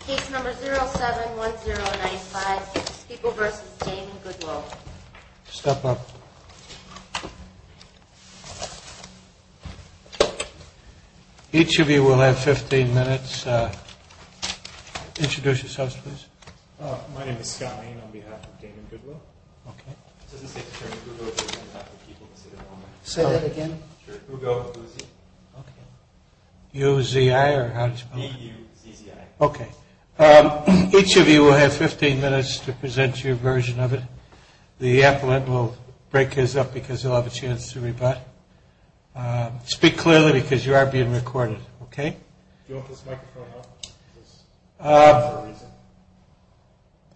Case number 071095, People v. Damon Goodwill. Step up. Each of you will have 15 minutes. Introduce yourselves, please. My name is Scott Lane on behalf of Damon Goodwill. Okay. It doesn't say to turn to Google if you're on behalf of People. Say that again? Sure. Google. Okay. U-Z-I or how does it spell? E-U-Z-Z-I. Okay. Each of you will have 15 minutes to present your version of it. The appellant will break his up because he'll have a chance to rebut. Speak clearly because you are being recorded. Okay? Do you want this microphone up? Is there a reason?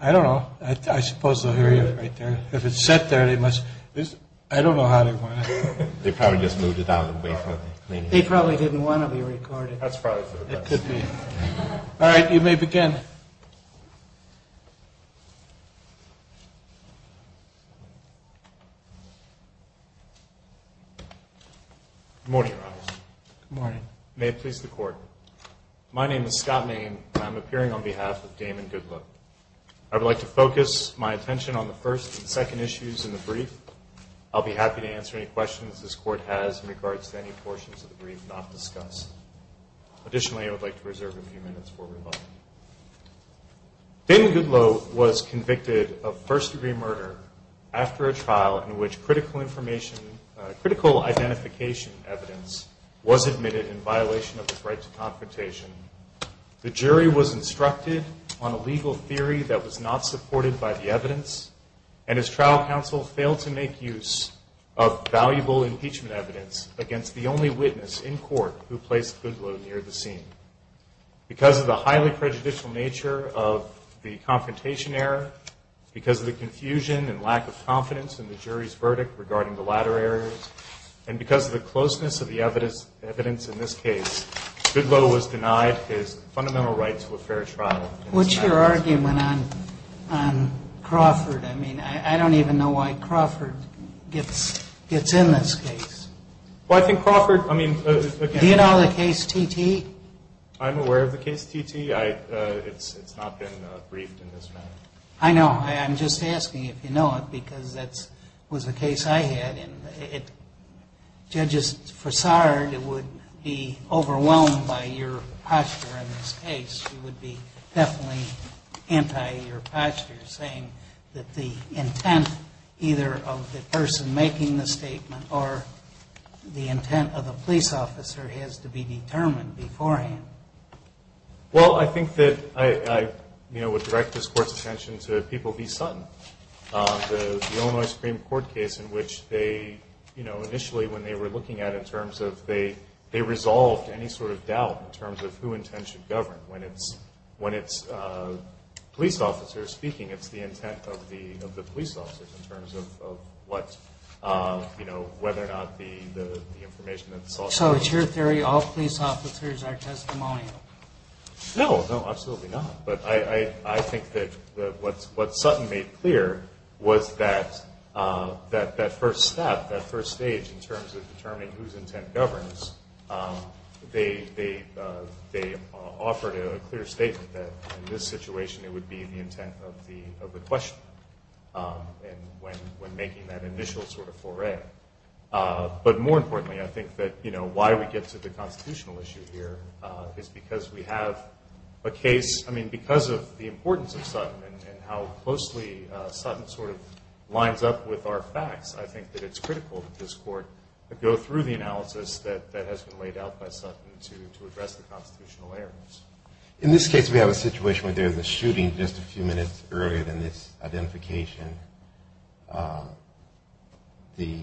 I don't know. I suppose they'll hear you right there. If it's set there, they must – I don't know how they want it. They probably just moved it out of the way for the cleaning. They probably didn't want to be recorded. That's probably for the best. It could be. All right. You may begin. Good morning, Your Honor. Good morning. May it please the Court. My name is Scott Lane, and I'm appearing on behalf of Damon Goodwill. I would like to focus my attention on the first and second issues in the brief. I'll be happy to answer any questions this Court has in regards to any portions of the brief not discussed. Additionally, I would like to reserve a few minutes for rebuttal. Damon Goodwill was convicted of first-degree murder after a trial in which critical identification evidence was admitted in violation of his right to confrontation. The jury was instructed on a legal theory that was not supported by the evidence, and his trial counsel failed to make use of valuable impeachment evidence against the only witness in court who placed Goodwill near the scene. Because of the highly prejudicial nature of the confrontation error, because of the confusion and lack of confidence in the jury's verdict regarding the latter areas, and because of the closeness of the evidence in this case, Goodwill was denied his fundamental right to a fair trial. What's your argument on Crawford? I mean, I don't even know why Crawford gets in this case. Well, I think Crawford, I mean... Do you know the case T.T.? I'm aware of the case T.T. It's not been briefed in this manner. I know. I'm just asking if you know it, because that was the case I had, and Judges, for Sard, it would be overwhelmed by your posture in this case. You would be definitely anti-your posture, saying that the intent either of the person making the statement or the intent of the police officer has to be determined beforehand. Well, I think that I would direct this Court's attention to People v. Sutton, the Illinois Supreme Court case in which they initially, when they were looking at it in terms of they resolved any sort of doubt in terms of who intent should govern. When it's police officers speaking, it's the intent of the police officers in terms of whether or not the information that's sought... So it's your theory all police officers are testimonial? No, no, absolutely not. But I think that what Sutton made clear was that that first step, that first stage in terms of determining whose intent governs, they offered a clear statement that in this situation, it would be the intent of the questioner when making that initial sort of foray. But more importantly, I think that why we get to the constitutional issue here is because we have a case, I mean, because of the importance of Sutton and how closely Sutton sort of lines up with our facts, I think that it's critical that this Court go through the analysis that has been laid out by Sutton to address the constitutional errors. In this case, we have a situation where there's a shooting just a few minutes earlier than this identification. The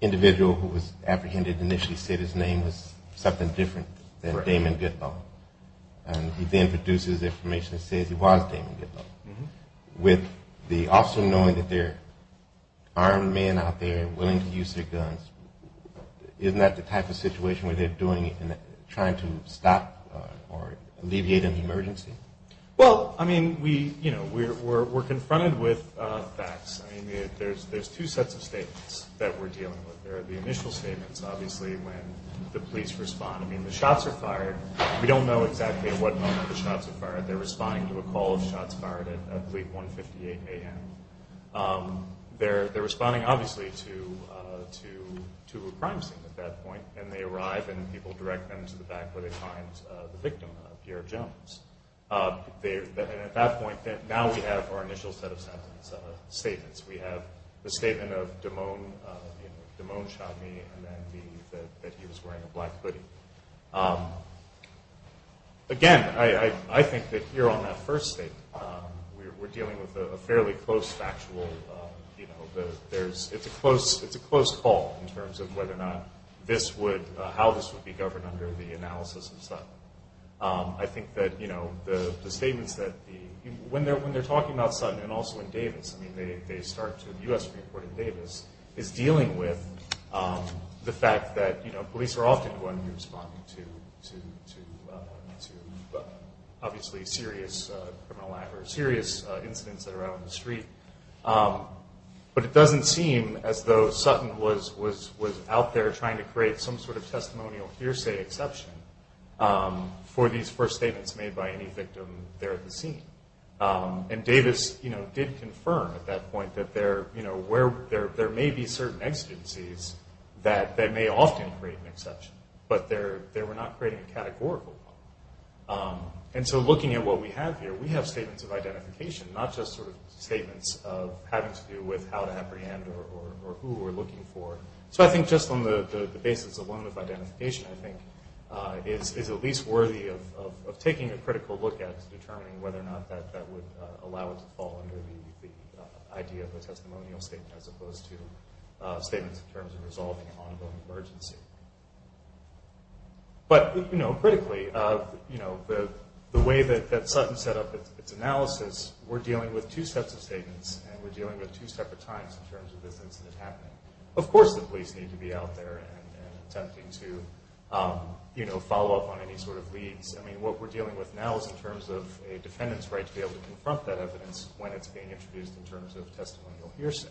individual who was apprehended initially said his name was something different than Damon Goodlaw, and he then produces information that says he was Damon Goodlaw. With the officer knowing that there are men out there willing to use their guns, isn't that the type of situation where they're doing it and trying to stop or alleviate an emergency? Well, I mean, we're confronted with facts. I mean, there's two sets of statements that we're dealing with. There are the initial statements, obviously, when the police respond. I mean, the shots are fired. We don't know exactly at what moment the shots are fired. They're responding to a call of shots fired at 3, 158 AM. They're responding, obviously, to a crime scene at that point, and they arrive, and people direct them to the back where they find the victim, Pierre Jones. At that point, now we have our initial set of statements. We have the statement of, you know, Damon shot me, and then that he was wearing a black hoodie. Again, I think that here on that first statement, we're dealing with a fairly close factual, you know, it's a close call in terms of whether or not this would, how this would be governed under the analysis of Sutton. I think that, you know, the statements that the, when they're talking about Sutton and also in Davis, I mean, they start to, the U.S. reported Davis, is dealing with the fact that, you know, Davis are often the ones who are responding to, obviously, serious incidents that are out on the street, but it doesn't seem as though Sutton was out there trying to create some sort of testimonial hearsay exception for these first statements made by any victim there at the scene. And Davis, you know, did confirm at that point that there, you know, there may be certain exigencies that may often create an exception, but they were not creating a categorical one. And so looking at what we have here, we have statements of identification, not just sort of statements of having to do with how to apprehend or who we're looking for. So I think just on the basis of one of identification, I think is at least worthy of taking a critical look at determining whether or not that would allow it to fall under the idea of a testimonial statement as opposed to statements in terms of resolving an ongoing emergency. But, you know, critically, you know, the way that Sutton set up its analysis, we're dealing with two sets of statements and we're dealing with two separate times in terms of this incident happening. Of course the police need to be out there and attempting to, you know, follow up on any sort of leads. I mean, what we're dealing with now is in terms of a defendant's right to be able to confront that evidence when it's being introduced in terms of testimonial hearsay.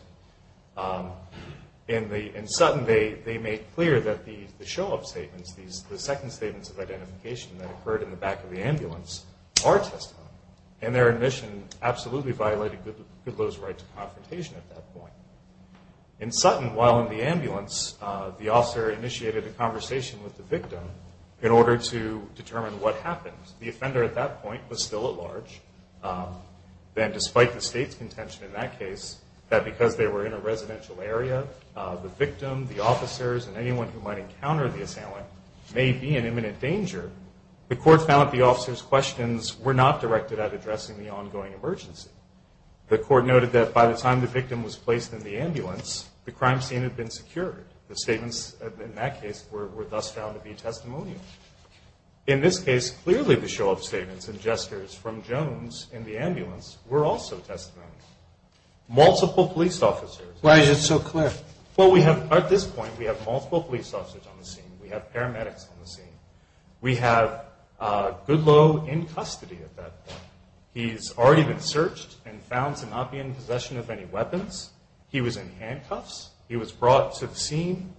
In Sutton, they made clear that the show-up statements, the second statements of identification that occurred in the back of the ambulance are testimonial. And their admission absolutely violated Goodloe's right to confrontation at that point. In Sutton, while in the ambulance, the officer initiated a conversation with the victim in order to determine what happened. The offender at that point was still at large. Then, despite the state's contention in that case, that because they were in a residential area, the victim, the officers, and anyone who might encounter the assailant may be in imminent danger. The court found that the officers' questions were not directed at addressing the ongoing emergency. The court noted that by the time the victim was placed in the ambulance, the crime scene had been secured. The statements in that case were thus found to be testimonial. In this case, clearly the show-up statements and gestures from Jones in the ambulance were also testimonial. Multiple police officers... Why is it so clear? Well, we have, at this point, we have multiple police officers on the scene. We have paramedics on the scene. We have Goodloe in custody at that point. He's already been searched and found to not be in possession of any weapons. He was in handcuffs. He was brought to the scene.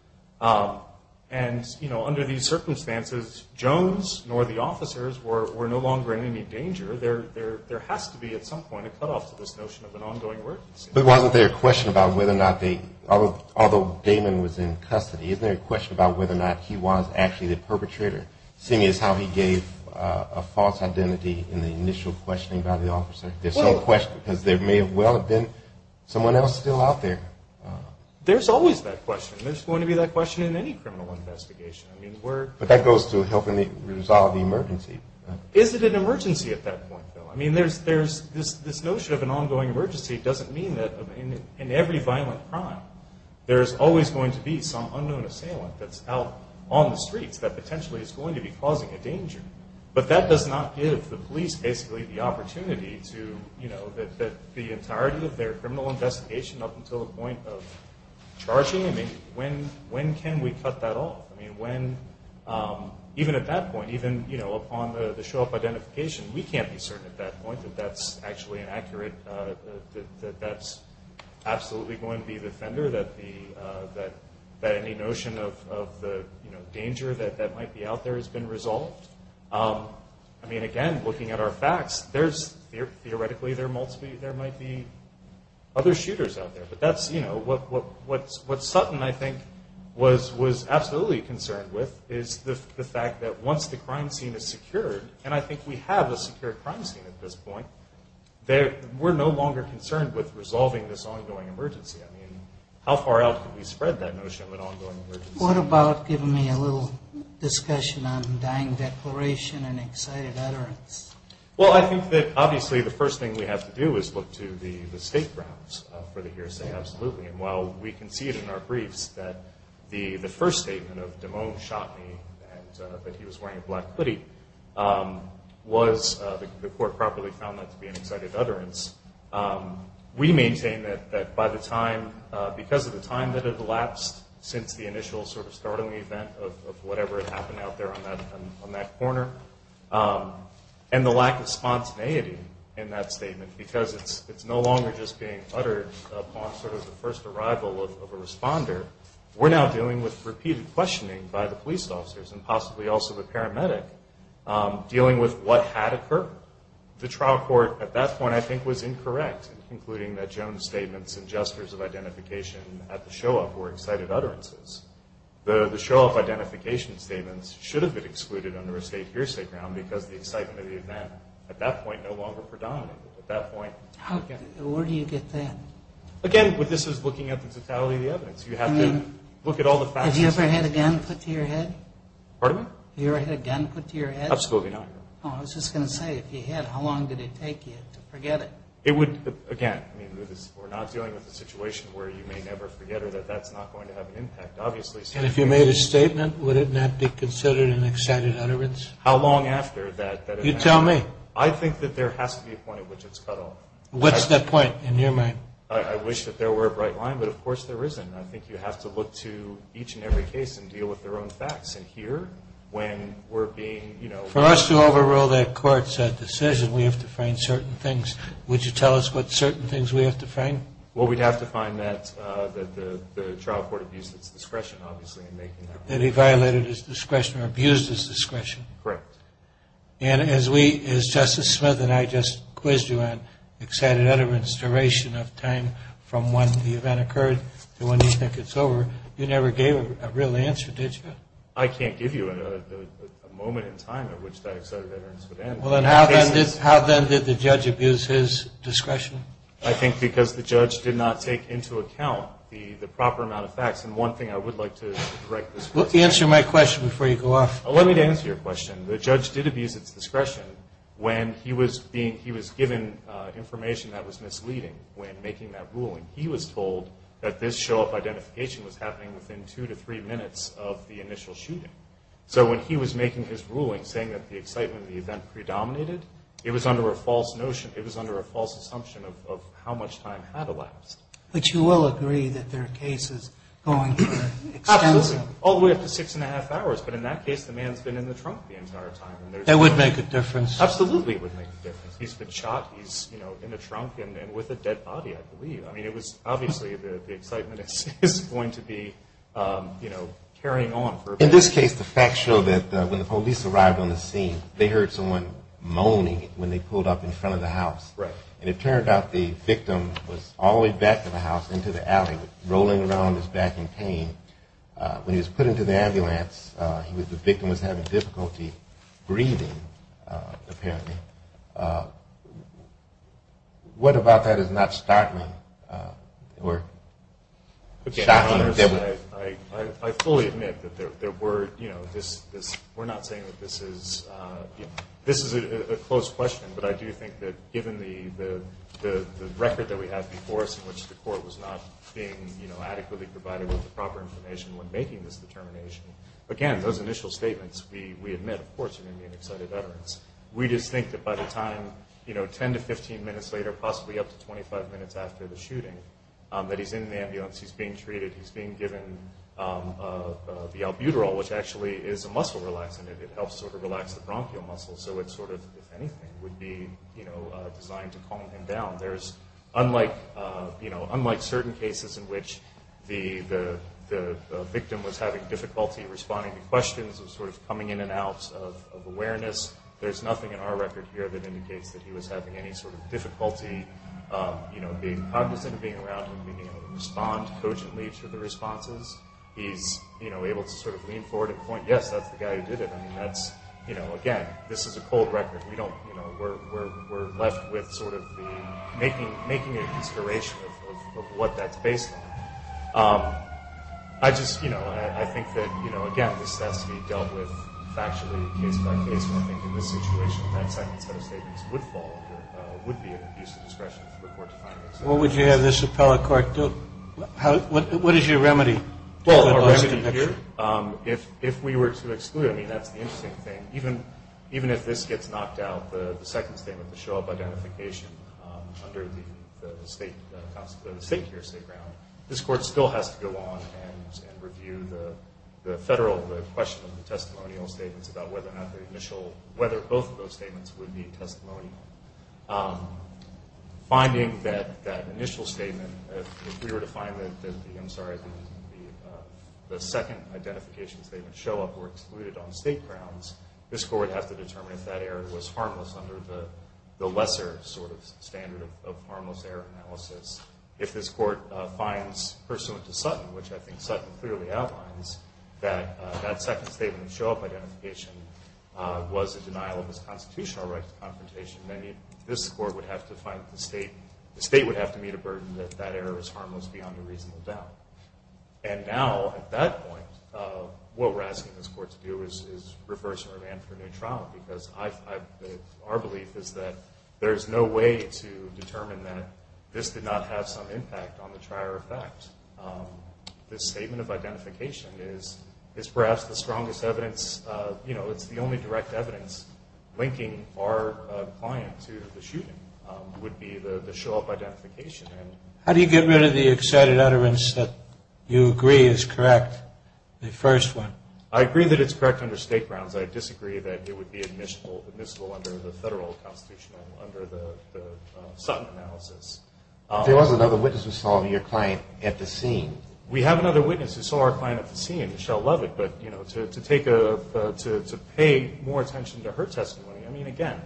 And, you know, under these circumstances, because Jones nor the officers were no longer in any danger, there has to be, at some point, a cutoff to this notion of an ongoing emergency. But wasn't there a question about whether or not they... Although Damon was in custody, isn't there a question about whether or not he was actually the perpetrator, seeing as how he gave a false identity in the initial questioning by the officer? There's some question because there may well have been someone else still out there. There's always that question. There's going to be that question in any criminal investigation. But that goes to helping resolve the emergency. Is it an emergency at that point, though? I mean, this notion of an ongoing emergency doesn't mean that in every violent crime there's always going to be some unknown assailant that's out on the streets that potentially is going to be causing a danger. But that does not give the police, basically, the opportunity to, you know, that the entirety of their criminal investigation up until the point of charging, I mean, when can we cut that off? I mean, when... Even at that point, even, you know, upon the show-up identification, we can't be certain at that point that that's actually an accurate... that that's absolutely going to be the offender, that any notion of the, you know, danger that might be out there has been resolved. I mean, again, looking at our facts, theoretically, there might be other shooters out there. But that's, you know, what Sutton, I think, was absolutely concerned with, is the fact that once the crime scene is secured, and I think we have a secure crime scene at this point, we're no longer concerned with resolving this ongoing emergency. I mean, how far out can we spread that notion of an ongoing emergency? What about giving me a little discussion on dying declaration and excited utterance? Well, I think that, obviously, the first thing we have to do is look to the state grounds for the hearsay, absolutely. And while we can see it in our briefs that the first statement of, Demone shot me and that he was wearing a black hoodie, the court probably found that to be an excited utterance. We maintain that by the time... because of the time that it elapsed since the initial sort of starting event of whatever had happened out there on that corner, and the lack of spontaneity in that statement, because it's no longer just being uttered upon sort of the first arrival of a responder, we're now dealing with repeated questioning by the police officers and possibly also the paramedic dealing with what had occurred. The trial court at that point, I think, was incorrect in concluding that Jones' statements and gestures of identification at the show-off were excited utterances. The show-off identification statements should have been excluded under a state hearsay ground because the excitement of the event at that point no longer predominant. At that point... Again, this is looking at the totality of the evidence. You have to look at all the facts... Pardon me? Absolutely not. It would, again... We're not dealing with a situation where you may never forget or that that's not going to have an impact, obviously. And if you made a statement, wouldn't that be considered an excited utterance? How long after that... You tell me. I think that there has to be a point at which it's cut off. What's that point, in your mind? I wish that there were a bright line, but of course there isn't. I think you have to look to each and every case and deal with their own facts. For us to overrule that court's decision, we have to find certain things. Would you tell us what certain things we have to find? We'd have to find that the trial court abused its discretion, obviously. That he violated his discretion or abused his discretion. Correct. As Justice Smith and I just quizzed you on excited utterance duration of time from when the event occurred to when you think it's over, you never gave a real answer, did you? I can't give you a moment in time at which that excited utterance would end. How then did the judge abuse his discretion? I think because the judge did not take into account the proper amount of facts. And one thing I would like to direct this court to... Answer my question before you go off. Let me answer your question. The judge did abuse its discretion when he was given information that was misleading when making that ruling. He was told that this show-off identification was happening within two to three minutes of the initial shooting. So when he was making his ruling saying that the excitement of the event predominated, it was under a false assumption of how much time had elapsed. But you will agree that there are cases going for extensive... Absolutely. All the way up to six and a half hours. But in that case, the man's been in the trunk the entire time. That would make a difference. Absolutely it would make a difference. He's been shot. He's in the trunk and with a dead body, I believe. Obviously the excitement is going to be carrying on. In this case, the facts show that when the police arrived on the scene, they heard someone moaning when they pulled up in front of the house. And it turned out the victim was all the way back to the house, into the alley, rolling around his back in pain. When he was put into the ambulance, the victim was having difficulty breathing, apparently. What about that is not shocking? I fully admit that there were... We're not saying that this is... This is a closed question, but I do think that given the record that we have before us in which the court was not being adequately provided with the proper information when making this determination, again, those initial statements, we admit them. We just think that by the time, you know, 10 to 15 minutes later, possibly up to 25 minutes after the shooting, that he's in the ambulance, he's being treated, he's being given the albuterol, which actually is a muscle relaxant. It helps sort of relax the bronchial muscles, so it sort of, if anything, would be designed to calm him down. Unlike certain cases in which the victim was having difficulty responding to questions of sort of coming in and out, questions of awareness, there's nothing in our record here that indicates that he was having any sort of difficulty being cognizant of being around him, being able to respond cogently to the responses. He's able to sort of lean forward and point, yes, that's the guy who did it. Again, this is a cold record. We're left with sort of making a consideration of what that's based on. I just, you know, I think that, you know, again, this has to be dealt with factually, case-by-case, and I think in this situation, that second set of statements would fall under, would be an abuse of discretion for the court to find an exception. What would you have this appellate court do? What is your remedy? Well, our remedy here, if we were to exclude, I mean, that's the interesting thing. Even if this gets knocked out, the second statement, the show-up identification under the state, this court still has to go on and review the federal, the question of the testimonial statements about whether or not the initial, whether both of those statements would be testimonial. Finding that initial statement, if we were to find that the, I'm sorry, the second identification statement, show-up were excluded on state grounds, this court would have to determine if that error was harmless under the lesser sort of standard of harmless error analysis. If this court finds, pursuant to Sutton, which I think Sutton clearly outlines, that that second statement of show-up identification was a denial of his constitutional right to confrontation, then this court would have to find the state, the state would have to meet a burden that that error was harmless beyond a reasonable doubt. And now, at that point, what we're asking this court to do is reverse our demand for a new trial because our belief is that there is no way to determine that this did not have some impact on the trier effect. This statement of identification is perhaps the strongest evidence, you know, it's the only direct evidence linking our client to the shooting would be the show-up identification. How do you get rid of the excited utterance that you agree is correct, the first one? I agree that it's correct under state grounds. I disagree that it would be admissible under the federal constitutional, under the Sutton analysis. There was another witness who saw your client at the scene. We have another witness who saw our client at the scene, Michelle Levick, but, you know, to pay more attention to her testimony, I mean, again,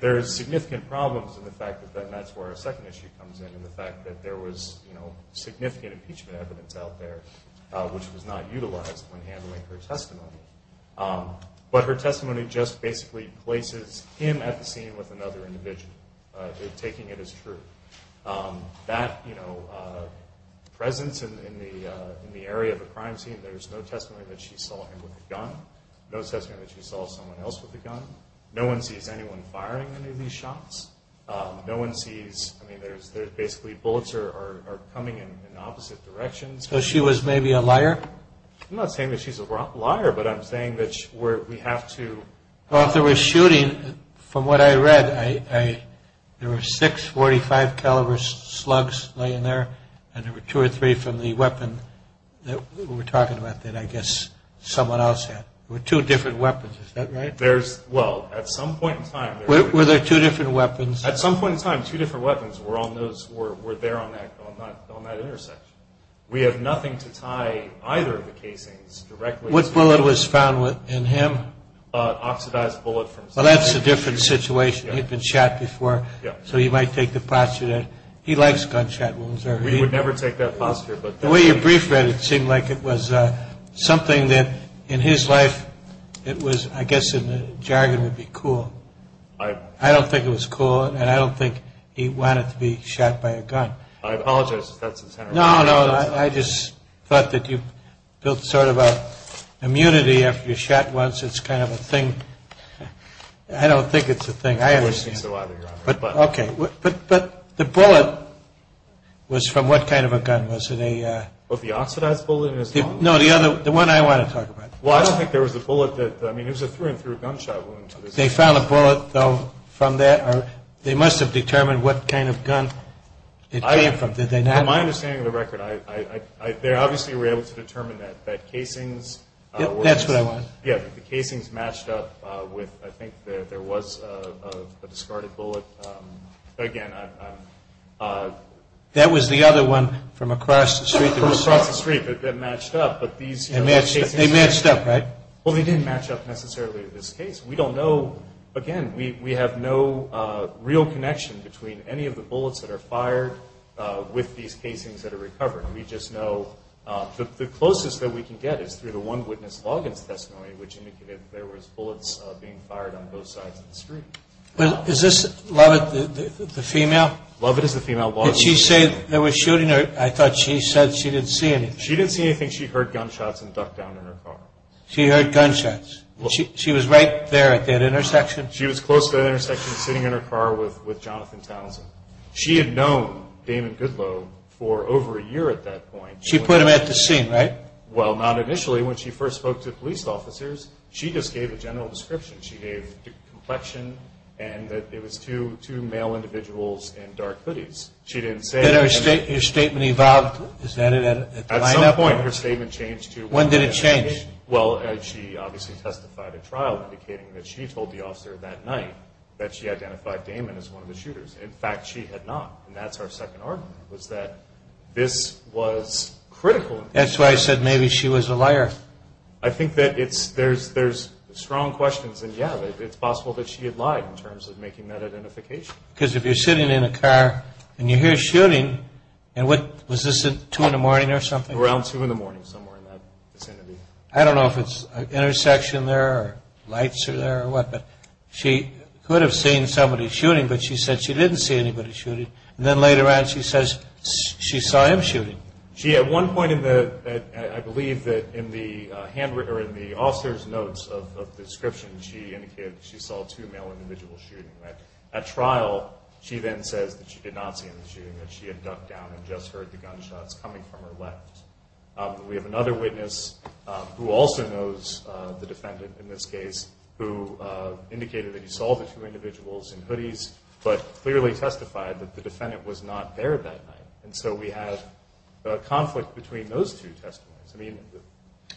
there is significant problems in the fact that that's where our second issue comes in, in the fact that there was, you know, significant impeachment evidence out there which was not utilized when handling her testimony. But her testimony just basically places him at the scene with another individual, taking it as true. That, you know, presence in the area of the crime scene, there's no testimony that she saw him with a gun, no testimony that she saw someone else with a gun, no one sees anyone firing any of these shots, no one sees, I mean, there's basically bullets are coming in opposite directions. So she was maybe a liar? I'm not saying that she's a liar, but I'm saying that we have to... Well, if there was shooting, from what I read, there were six .45 caliber slugs laying there, and there were two or three from the weapon that we were talking about that I guess someone else had. There were two different weapons, is that right? Well, at some point in time... Were there two different weapons? At some point in time, two different weapons were there on that intersection. We have nothing to tie either of the casings directly... What bullet was found in him? Oxidized bullet from... Well, that's a different situation. He'd been shot before, so he might take the posture that he likes gunshot wounds. We would never take that posture, but... The way you briefed that, it seemed like it was something that, in his life, it was, I guess in the jargon, would be cool. I don't think it was cool, and I don't think he wanted to be shot by a gun. I apologize if that's... No, no, I just thought that you built sort of an immunity after you're shot once, it's kind of a thing. I don't think it's a thing. I understand. But the bullet was from what kind of a gun was it? The oxidized bullet? No, the one I want to talk about. Well, I don't think there was a bullet that... I mean, it was a through-and-through gunshot wound. They found a bullet, though, from that? They must have determined what kind of gun it came from. From my understanding of the record, they obviously were able to determine that casings... That's what I want. Yeah, the casings matched up with... I think there was a discarded bullet. Again, I'm... That was the other one from across the street that was shot. From across the street that matched up, but these casings... They matched up, right? Well, they didn't match up necessarily to this case. We don't know... Again, we have no real connection between any of the bullets that are fired with these casings that are recovered. We just know... The closest that we can get is through the one witness logins testimony, which indicated there was bullets being fired on both sides of the street. Is this Lovett, the female? Lovett is the female. Did she say they were shooting her? I thought she said she didn't see anything. She didn't see anything. She heard gunshots and ducked down in her car. She heard gunshots. She was right there at that intersection? She was close to that intersection, sitting in her car with Jonathan Townsend. She had known Damon Goodloe for over a year at that point. She put him at the scene, right? Well, not initially. When she first spoke to police officers, she just gave a general description. She gave complexion and that it was two male individuals in dark hoodies. Did her statement evolve? At some point, her statement changed to... When did it change? Well, she obviously testified at trial, indicating that she told the officer that night that she identified Damon as one of the shooters. In fact, she had not. And that's our second argument, that this was critical. That's why I said maybe she was a liar. I think that there's strong questions, and yeah, it's possible that she had lied in terms of making that identification. Because if you're sitting in a car and you hear shooting... Was this at 2 in the morning or something? Around 2 in the morning, somewhere in that vicinity. I don't know if it's an intersection there or lights are there or what, but she could have seen somebody shooting, but she said she didn't see anybody shooting. And then later on she says she saw him shooting. At one point in the... I believe that in the officer's notes of the description, she indicated that she saw two male individuals shooting. At trial, she then says that she did not see any shooting, that she had ducked down and just heard the gunshots coming from her left. We have another witness who also knows the defendant in this case, who indicated that he saw the two individuals in hoodies, but clearly testified that the defendant was not there that night. And so we have a conflict between those two testimonies. I mean,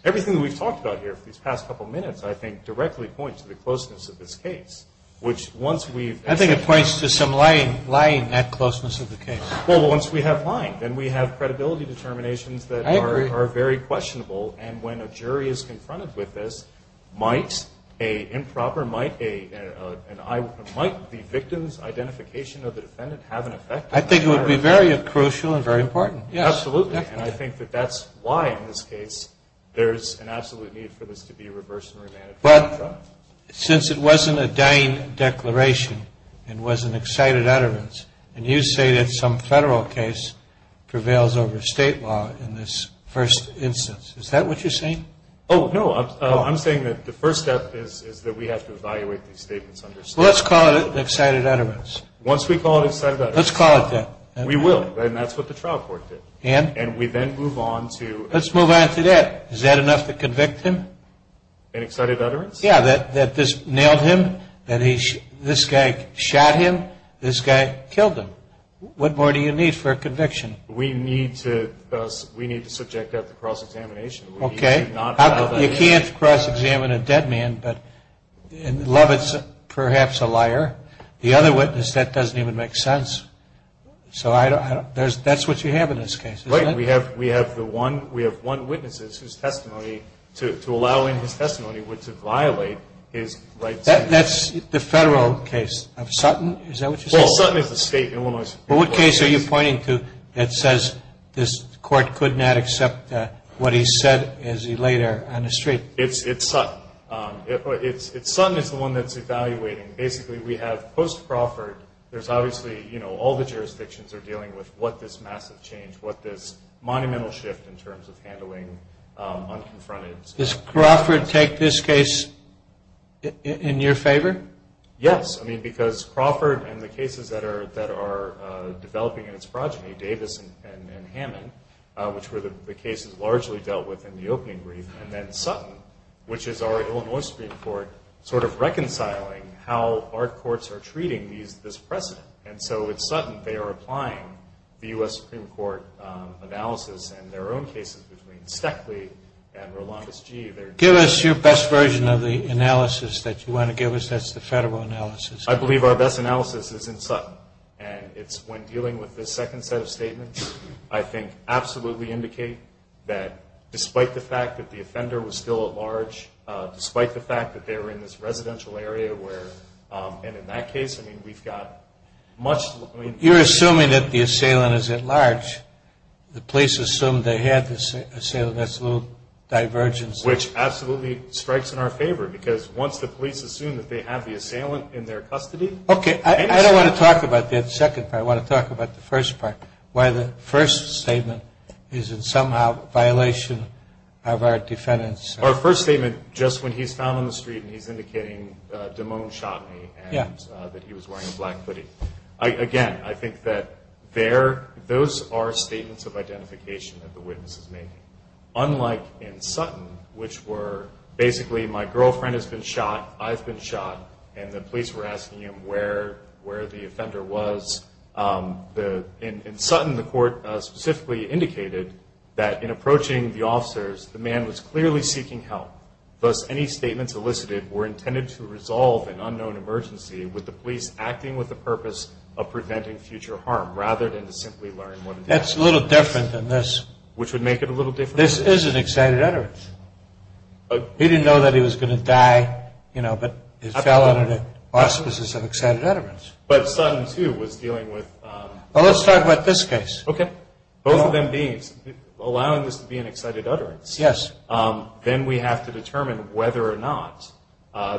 everything that we've talked about here for these past couple minutes, I think, directly points to the closeness of this case, which once we've... I think it points to some lying, lying in that closeness of the case. Well, once we have lying, then we have credibility determinations that are very questionable. And when a jury is confronted with this, might a improper... might the victim's identification of the defendant have an effect? I think it would be very crucial and very important. Absolutely. And I think that that's why, in this case, there's an absolute need for this to be reversed and remanded. But since it wasn't a dying declaration and was an excited utterance, and you say that some federal case prevails over state law in this first instance, is that what you're saying? Oh, no. I'm saying that the first step is that we have to evaluate these statements under state law. Well, let's call it an excited utterance. Once we call it an excited utterance. Let's call it that. We will, and that's what the trial court did. And? And we then move on to... Let's move on to that. Is that enough to convict him? An excited utterance? Yeah, that this nailed him, that this guy shot him, this guy killed him. What more do you need for a conviction? We need to subject that to cross-examination. Okay. You can't cross-examine a dead man, but Lovett's perhaps a liar. The other witness, that doesn't even make sense. So that's what you have in this case, isn't it? Right. We have one witness whose testimony, to allow in his testimony, would violate his rights. That's the federal case of Sutton. Is that what you're saying? Well, Sutton is the state in Illinois. Well, what case are you pointing to that says this court could not accept what he said as he lay there on the street? It's Sutton. Sutton is the one that's evaluating. Basically, we have post-Crawford, there's obviously, you know, all the jurisdictions are dealing with what this massive change, what this monumental shift in terms of handling unconfronted... Does Crawford take this case in your favor? Yes. I mean, because Crawford and the cases that are developing in its progeny, Davis and Hammond, which were the cases largely dealt with in the opening brief, and then Sutton, which is our Illinois Supreme Court, sort of reconciling how our courts are treating this precedent. And so with Sutton, they are applying the U.S. Supreme Court analysis and their own cases between Steckley and Rolando's G. Give us your best version of the analysis that you want to give us. That's the federal analysis. I believe our best analysis is in Sutton. And it's when dealing with this second set of statements, I think absolutely indicate that despite the fact that the offender was still at large, despite the fact that they were in this residential area where, and in that case, I mean, we've got much... You're assuming that the assailant is at large. The police assumed they had the assailant. That's a little divergence. Which absolutely strikes in our favor, because once the police assume that they have the assailant in their custody... Okay. I don't want to talk about that second part. I want to talk about the first part, why the first statement is in somehow violation of our defendant's... Our first statement, just when he's found on the street and he's indicating, Damone shot me, and that he was wearing a black hoodie. Again, I think that those are statements of identification that the witness is making. Unlike in Sutton, which were basically, my girlfriend has been shot, I've been shot, and the police were asking him where the offender was. In Sutton, the court specifically indicated that in approaching the officers, the man was clearly seeking help. Thus, any statements elicited were intended to resolve an unknown emergency with the police acting with the purpose of preventing future harm, rather than to simply learn what... That's a little different than this. Which would make it a little different? This is an excited utterance. He didn't know that he was going to die, but it fell under the auspices of excited utterance. But Sutton, too, was dealing with... Trying to determine whether or not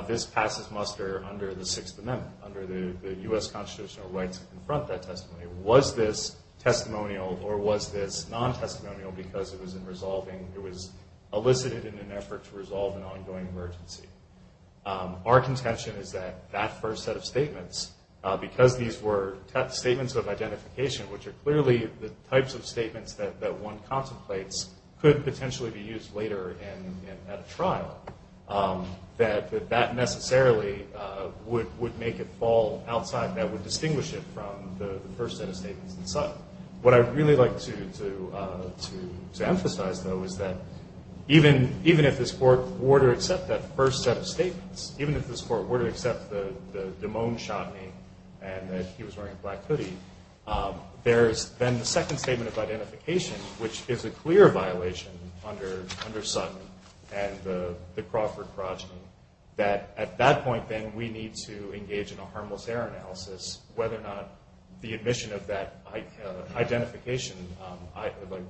this passes muster under the Sixth Amendment, under the U.S. constitutional right to confront that testimony. Was this testimonial or was this non-testimonial because it was elicited in an effort to resolve an ongoing emergency? Our contention is that that first set of statements, because these were statements of identification, which are clearly the types of statements that one contemplates, could potentially be used later at a trial. That that necessarily would make it fall outside and that would distinguish it from the first set of statements that Sutton... What I'd really like to emphasize, though, is that even if this Court were to accept that first set of statements, even if this Court were to accept that Damone shot me and that he was wearing a black hoodie, there's then the second statement of identification, which is a clear violation under Sutton and the Crawford progeny, that at that point, then, we need to engage in a harmless error analysis whether or not the admission of that identification...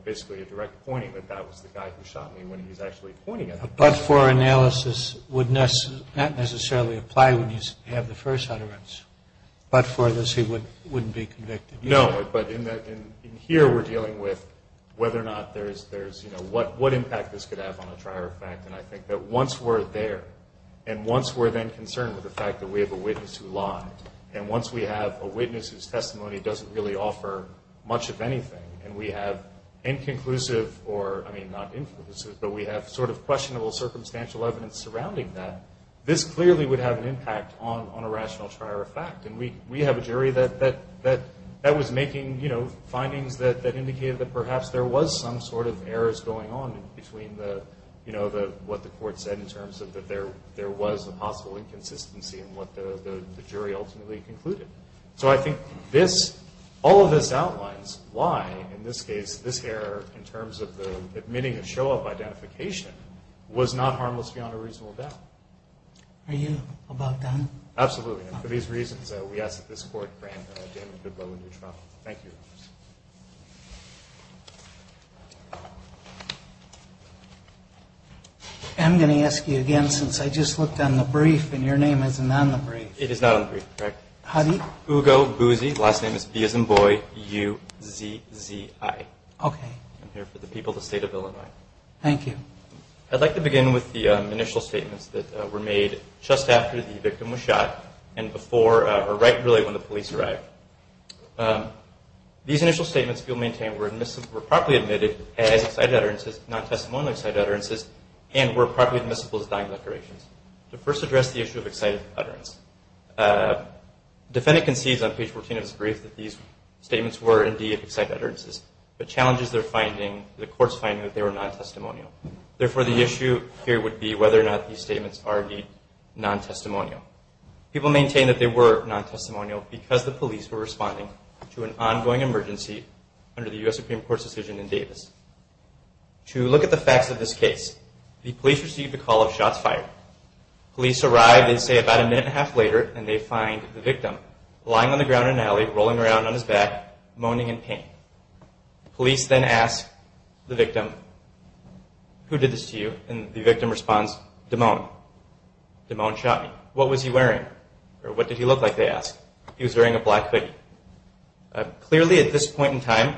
Basically, a direct pointing that that was the guy who shot me when he was actually pointing at me. But for analysis would not necessarily apply when you have the first utterance, but for this, he wouldn't be convicted. No, but in here, we're dealing with whether or not there's... What impact this could have on a trier fact and I think that once we're there and once we're then concerned with the fact that we have a witness who lied and once we have a witness whose testimony doesn't really offer much of anything and we have inconclusive or... I mean, not inconclusive, but we have sort of questionable circumstantial evidence surrounding that, this clearly would have an impact on a rational trier fact and we have a jury that was making findings that indicated that perhaps there was some sort of errors going on between what the court said in terms of that there was a possible inconsistency and what the jury ultimately concluded. So I think all of this outlines why, in this case, this error in terms of the admitting a show-up identification was not harmless beyond a reasonable doubt. Are you about done? Absolutely, and for these reasons, we ask that this court grant Damian Goodloe a new trial. Thank you. I'm going to ask you again, since I just looked on the brief and your name isn't on the brief. It is not on the brief, correct? Ugo Buzzi, last name is B as in boy, U-Z-Z-I. I'm here for the people of the state of Illinois. Thank you. I'd like to begin with the initial statements that were made just after the victim was shot and right when the police arrived. These initial statements, if you'll maintain, were properly admitted as excited utterances, non-testimonial excited utterances, and were properly admissible as dying declarations. To first address the issue of excited utterances, the defendant concedes on page 14 of his brief that these statements were indeed excited utterances, but challenges the court's finding that they were non-testimonial. Therefore, the issue here would be whether or not these statements are indeed non-testimonial. People maintain that they were non-testimonial because the police were responding to an ongoing emergency under the U.S. Supreme Court's decision in Davis. To look at the facts of this case, the police received a call of shots fired. Police arrived, they say, about a minute and a half later, and they find the victim lying on the ground in an alley, rolling around on his back, moaning in pain. Police then ask the victim, Who did this to you? And the victim responds, Damone. Damone shot me. What was he wearing? Or what did he look like, they ask. He was wearing a black hoodie. Clearly, at this point in time,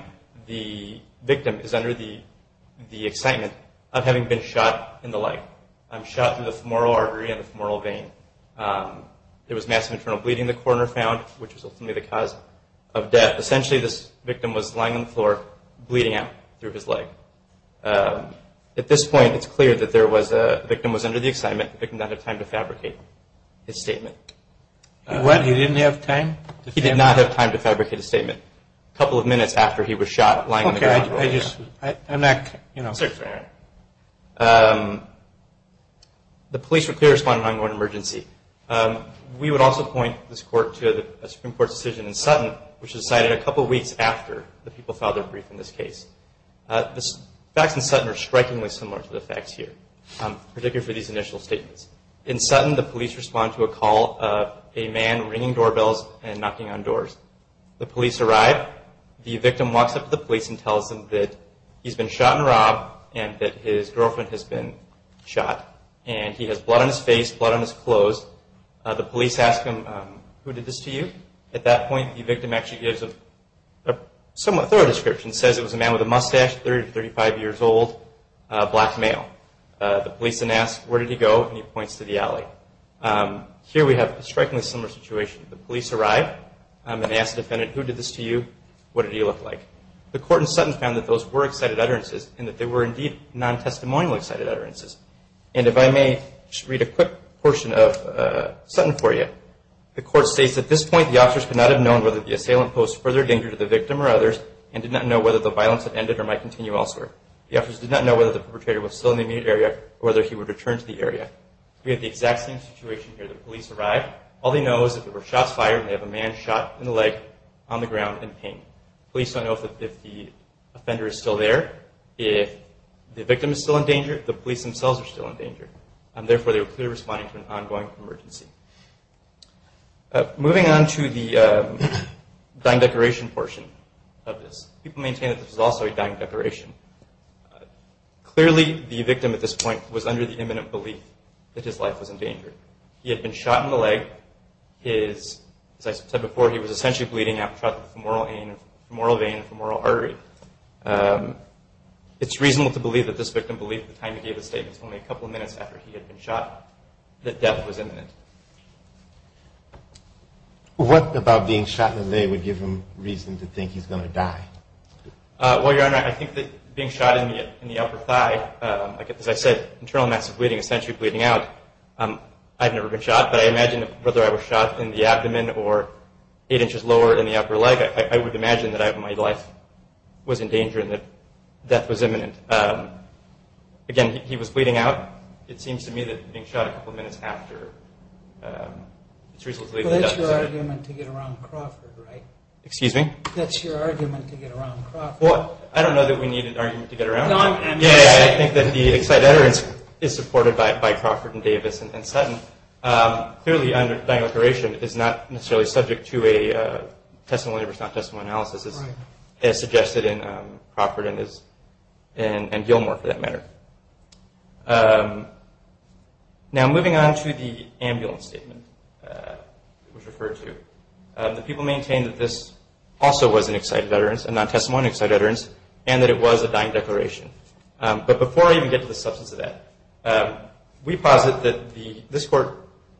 the victim is under the excitement of having been shot in the leg. Shot through the femoral artery and the femoral vein. There was massive internal bleeding in the corner found, which was ultimately the cause of death. Essentially, this victim was lying on the floor, bleeding out through his leg. At this point, it's clear that the victim was under the excitement that the victim did not have time to fabricate his statement. He what? He didn't have time? He did not have time to fabricate his statement. A couple of minutes after he was shot lying on the ground. Okay, I just, I'm not, you know. The police were clear to respond in an ongoing emergency. We would also point this court to a Supreme Court decision in Sutton, which was decided a couple weeks after the people filed their brief in this case. The facts in Sutton are strikingly similar to the facts here, particularly for these initial statements. In Sutton, the police respond to a call of a man ringing doorbells and knocking on doors. The police arrive. The victim walks up to the police and tells them that he's been shot and robbed and that his girlfriend has been shot. And he has blood on his face, blood on his clothes. The police ask him, who did this to you? At that point, the victim actually gives a somewhat thorough description. Says it was a man with a mustache, 30 to 35 years old, black male. The police then ask, where did he go? And he points to the alley. Here we have a strikingly similar situation. The police arrive and ask the defendant, who did this to you? What did he look like? The court in Sutton found that those were excited utterances and that they were indeed non-testimonial excited utterances. And if I may just read a quick portion of Sutton for you. The court states, at this point the officers could not have known whether the assailant posed further danger to the victim or others and did not know whether the violence had ended or might continue elsewhere. The officers did not know whether the perpetrator was still in the immediate area or whether he would return to the area. We have the exact same situation here. The police arrive. All they know is if there were shots fired, they have a man shot in the leg on the ground in pain. The police don't know if the offender is still there. If the victim is still in danger, the police themselves are still in danger. And therefore, they were clearly responding to an ongoing emergency. Moving on to the dying decoration portion of this. People maintain that this was also a dying decoration. Clearly, the victim at this point was under the imminent belief that his life was in danger. He had been shot in the leg. As I said before, he was essentially bleeding out from the femoral vein and femoral artery. It's reasonable to believe that this victim believed at the time he gave his statements, only a couple of minutes after he had been shot, that death was imminent. What about being shot in the leg would give him reason to think he's going to die? Well, Your Honor, I think that being shot in the upper thigh, as I said, internal mass of bleeding, essentially bleeding out, I've never been shot, but I imagine whether I was shot in the abdomen or eight inches lower in the upper leg, I would imagine that my life was in danger and that death was imminent. Again, he was bleeding out. It seems to me that being shot a couple of minutes after... Well, that's your argument to get around Crawford, right? Excuse me? That's your argument to get around Crawford. Well, I don't know that we need an argument to get around him. I think that the excited utterance is supported by Crawford and Davis and Sutton. Clearly, dying decoration is not necessarily subject to a testimony versus not testimony analysis, as suggested in Crawford and Gilmore, for that matter. Now, moving on to the ambulance statement, the people maintain that this also was an excited utterance, a non-testimony excited utterance, and that it was a dying declaration. But before I even get to the substance of that, we posit that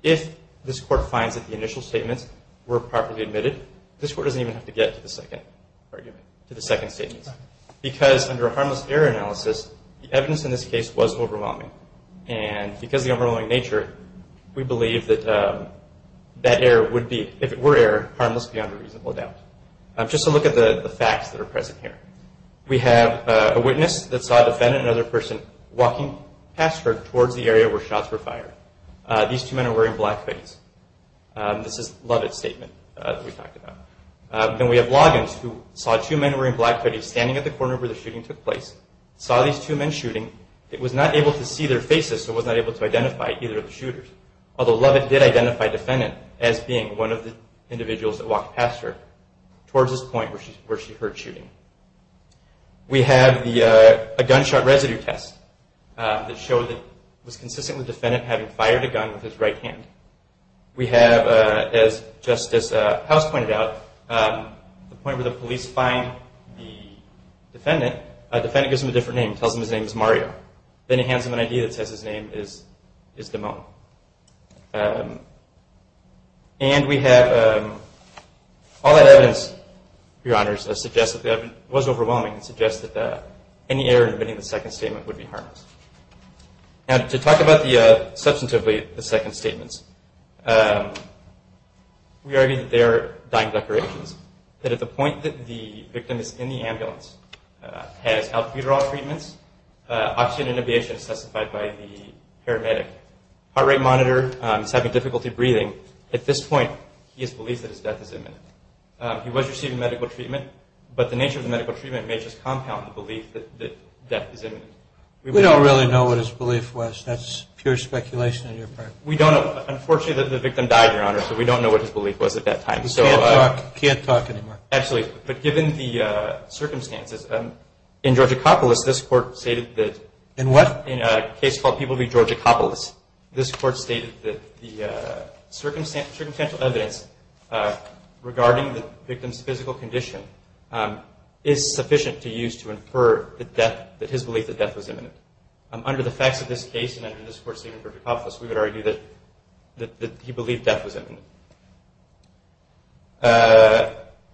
if this Court finds that the initial statements were properly admitted, this Court doesn't even have to get to the second. To the second statement. Because under a harmless error analysis, the evidence in this case was overwhelming. And because of the overwhelming nature, we believe that that error would be, if it were error, harmless beyond a reasonable doubt. Just to look at the facts that are present here. We have a witness that saw a defendant and another person walking past her towards the area where shots were fired. These two men are wearing black veins. This is Lovett's statement that we talked about. Then we have Loggins, who saw two men wearing black veins standing at the corner where the shooting took place, saw these two men shooting, but was not able to see their faces so was not able to identify either of the shooters. Although Lovett did identify the defendant as being one of the individuals that walked past her towards this point where she heard shooting. that showed that it was consistent with the defendant having fired a gun with his right hand. We have, just as House pointed out, the point where the police find the defendant, the defendant gives him a different name, tells him his name is Mario. Then he hands him an ID that says his name is Dimone. And we have all that evidence, Your Honors, that was overwhelming and suggests that any error in admitting the second statement would be harmless. Now, to talk about, substantively, the second statements, we argue that they are dying declarations, that at the point that the victim is in the ambulance, has albuterol treatments, oxygen inhibition as testified by the paramedic, heart rate monitor, is having difficulty breathing, at this point he believes that his death is imminent. He was receiving medical treatment, but the nature of the medical treatment may just compound the belief that death is imminent. We don't really know what his belief was. That's pure speculation on your part. Unfortunately, the victim died, Your Honors, but we don't know what his belief was at that time. We can't talk anymore. Absolutely, but given the circumstances, in Georgia Coppolis, this Court stated that the circumstantial evidence regarding the victim's physical condition is sufficient to use to infer that his belief that death was imminent. Under the facts of this case, and under this Court's statement for Coppolis, we would argue that he believed death was imminent.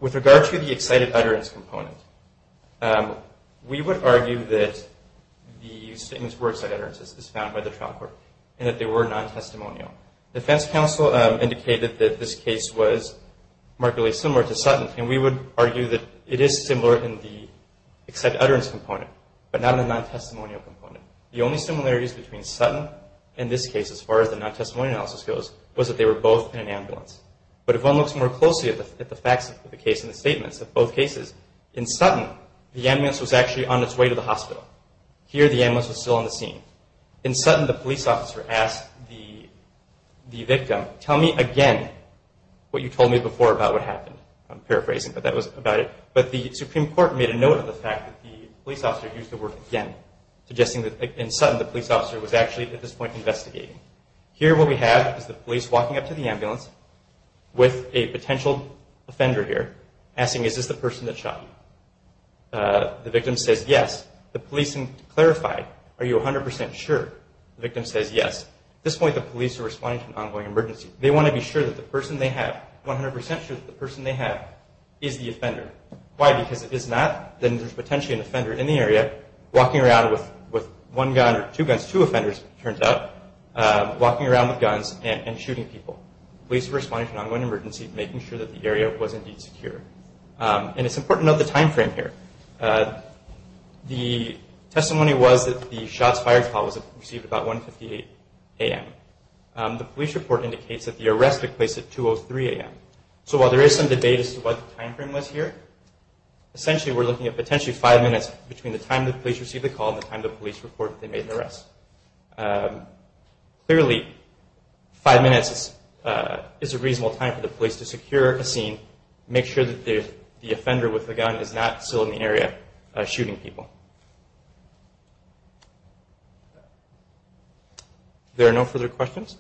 With regard to the excited utterance component, we would argue that these statements were excited utterances, as found by the trial court, and that they were non-testimonial. The defense counsel indicated that this case was markedly similar to Sutton, and we would argue that it is similar in the excited utterance component, but not in the non-testimonial component. The only similarities between Sutton and this case, as far as the non-testimonial analysis goes, was that they were both in an ambulance. But if one looks more closely at the facts of the case and the statements of both cases, in Sutton, the ambulance was actually on its way to the hospital. Here, the ambulance was still on the scene. In Sutton, the police officer asked the victim, tell me again what you told me before about what happened. I'm paraphrasing, but that was about it. But the Supreme Court made a note of the fact that the police officer used the word again, suggesting that in Sutton, the police officer was actually, at this point, investigating. Here, what we have is the police walking up to the ambulance with a potential offender here, asking, is this the person that shot you? The victim says, yes. The police clarified, are you 100% sure? The victim says, yes. At this point, the police are responding to an ongoing emergency. They want to be sure that the person they have, 100% sure that the person they have is the offender. Why? Because if it's not, then there's potentially an offender in the area walking around with one gun, or two guns, two offenders, it turns out, walking around with guns and shooting people. The police are responding to an ongoing emergency, making sure that the area was indeed secure. And it's important to note the time frame here. The testimony was that the shots fired call was received about 1.58 a.m. The police report indicates that the arrest took place at 2.03 a.m. So while there is some debate as to what the time frame was here, essentially we're looking at potentially five minutes between the time the police received the call and the time the police reported they made the arrest. Clearly, five minutes is a reasonable time for the police to secure a scene, make sure that the offender with the gun is not still in the area shooting people. There are no further questions.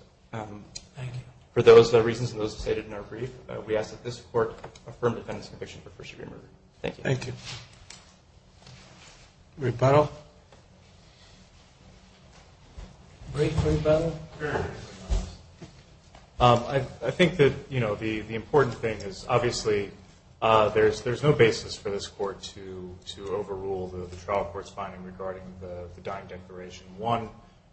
For those reasons and those stated in our brief, we ask that this court affirm the defendant's conviction for first degree murder. Thank you. Thank you. Rebuttal? Brief rebuttal? I think that the important thing is obviously there's no basis for this court to overrule the trial court's finding regarding the dying declaration. One,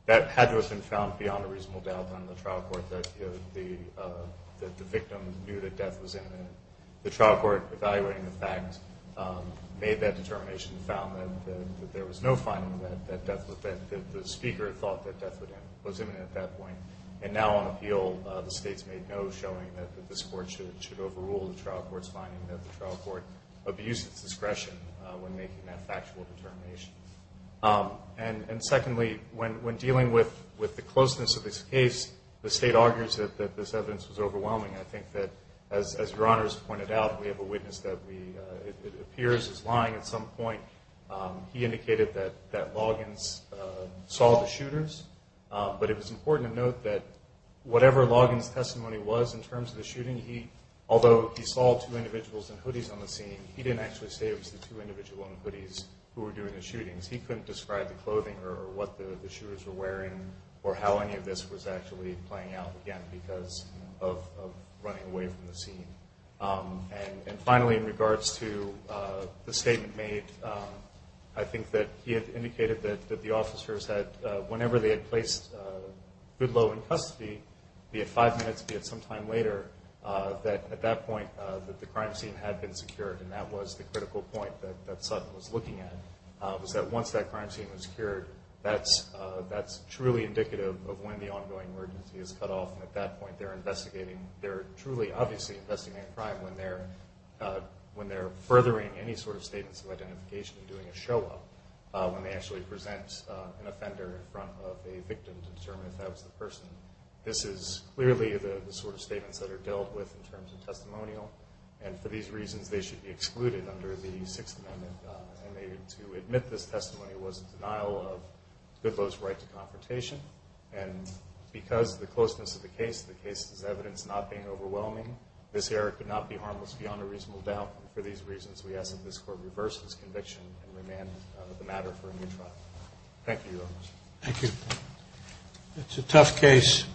that had to have been found beyond a reasonable doubt on the trial court that the victim knew that death was imminent. The trial court, evaluating the fact, made that determination and found that there was no finding that the speaker thought that death was imminent at that point. And now on appeal, the state's made no showing that this court should overrule the trial court's finding that the trial court abused its discretion when making that factual determination. And secondly, when dealing with the closeness of this case, the state argues that this evidence was overwhelming. I think that, as Your Honors pointed out, we have a witness that appears as lying at some point. He indicated that Loggins saw the shooters, but it was important to note that whatever Loggins' testimony was in terms of the shooting, although he saw two individuals in hoodies on the scene, he didn't actually say it was the two individuals in hoodies who were doing the shootings. He couldn't describe the clothing or what the shooters were wearing or how any of this was actually playing out again because of running away from the scene. And finally, in regards to the statement made, I think that he had indicated that the officers had, whenever they had placed Goodloe in custody, be it five minutes, be it some time later, that at that point the crime scene had been secured, and that was the critical point that Sutton was looking at, was that once that crime scene was secured, that's truly indicative of when the ongoing emergency is cut off, and at that point they're investigating, they're truly obviously investigating a crime when they're furthering any sort of statements of identification and doing a show-up, when they actually present an offender in front of a victim to determine if that was the person. This is clearly the sort of statements that are dealt with in terms of testimonial, and for these reasons they should be excluded under the Sixth Amendment. And to admit this testimony was in denial of Goodloe's right to confrontation, and because of the closeness of the case, the case is evidence not being overwhelming. This error could not be harmless beyond a reasonable doubt, and for these reasons we ask that this Court reverse this conviction and remand the matter for a new trial. Thank you, Your Honors. Thank you. It's a tough case.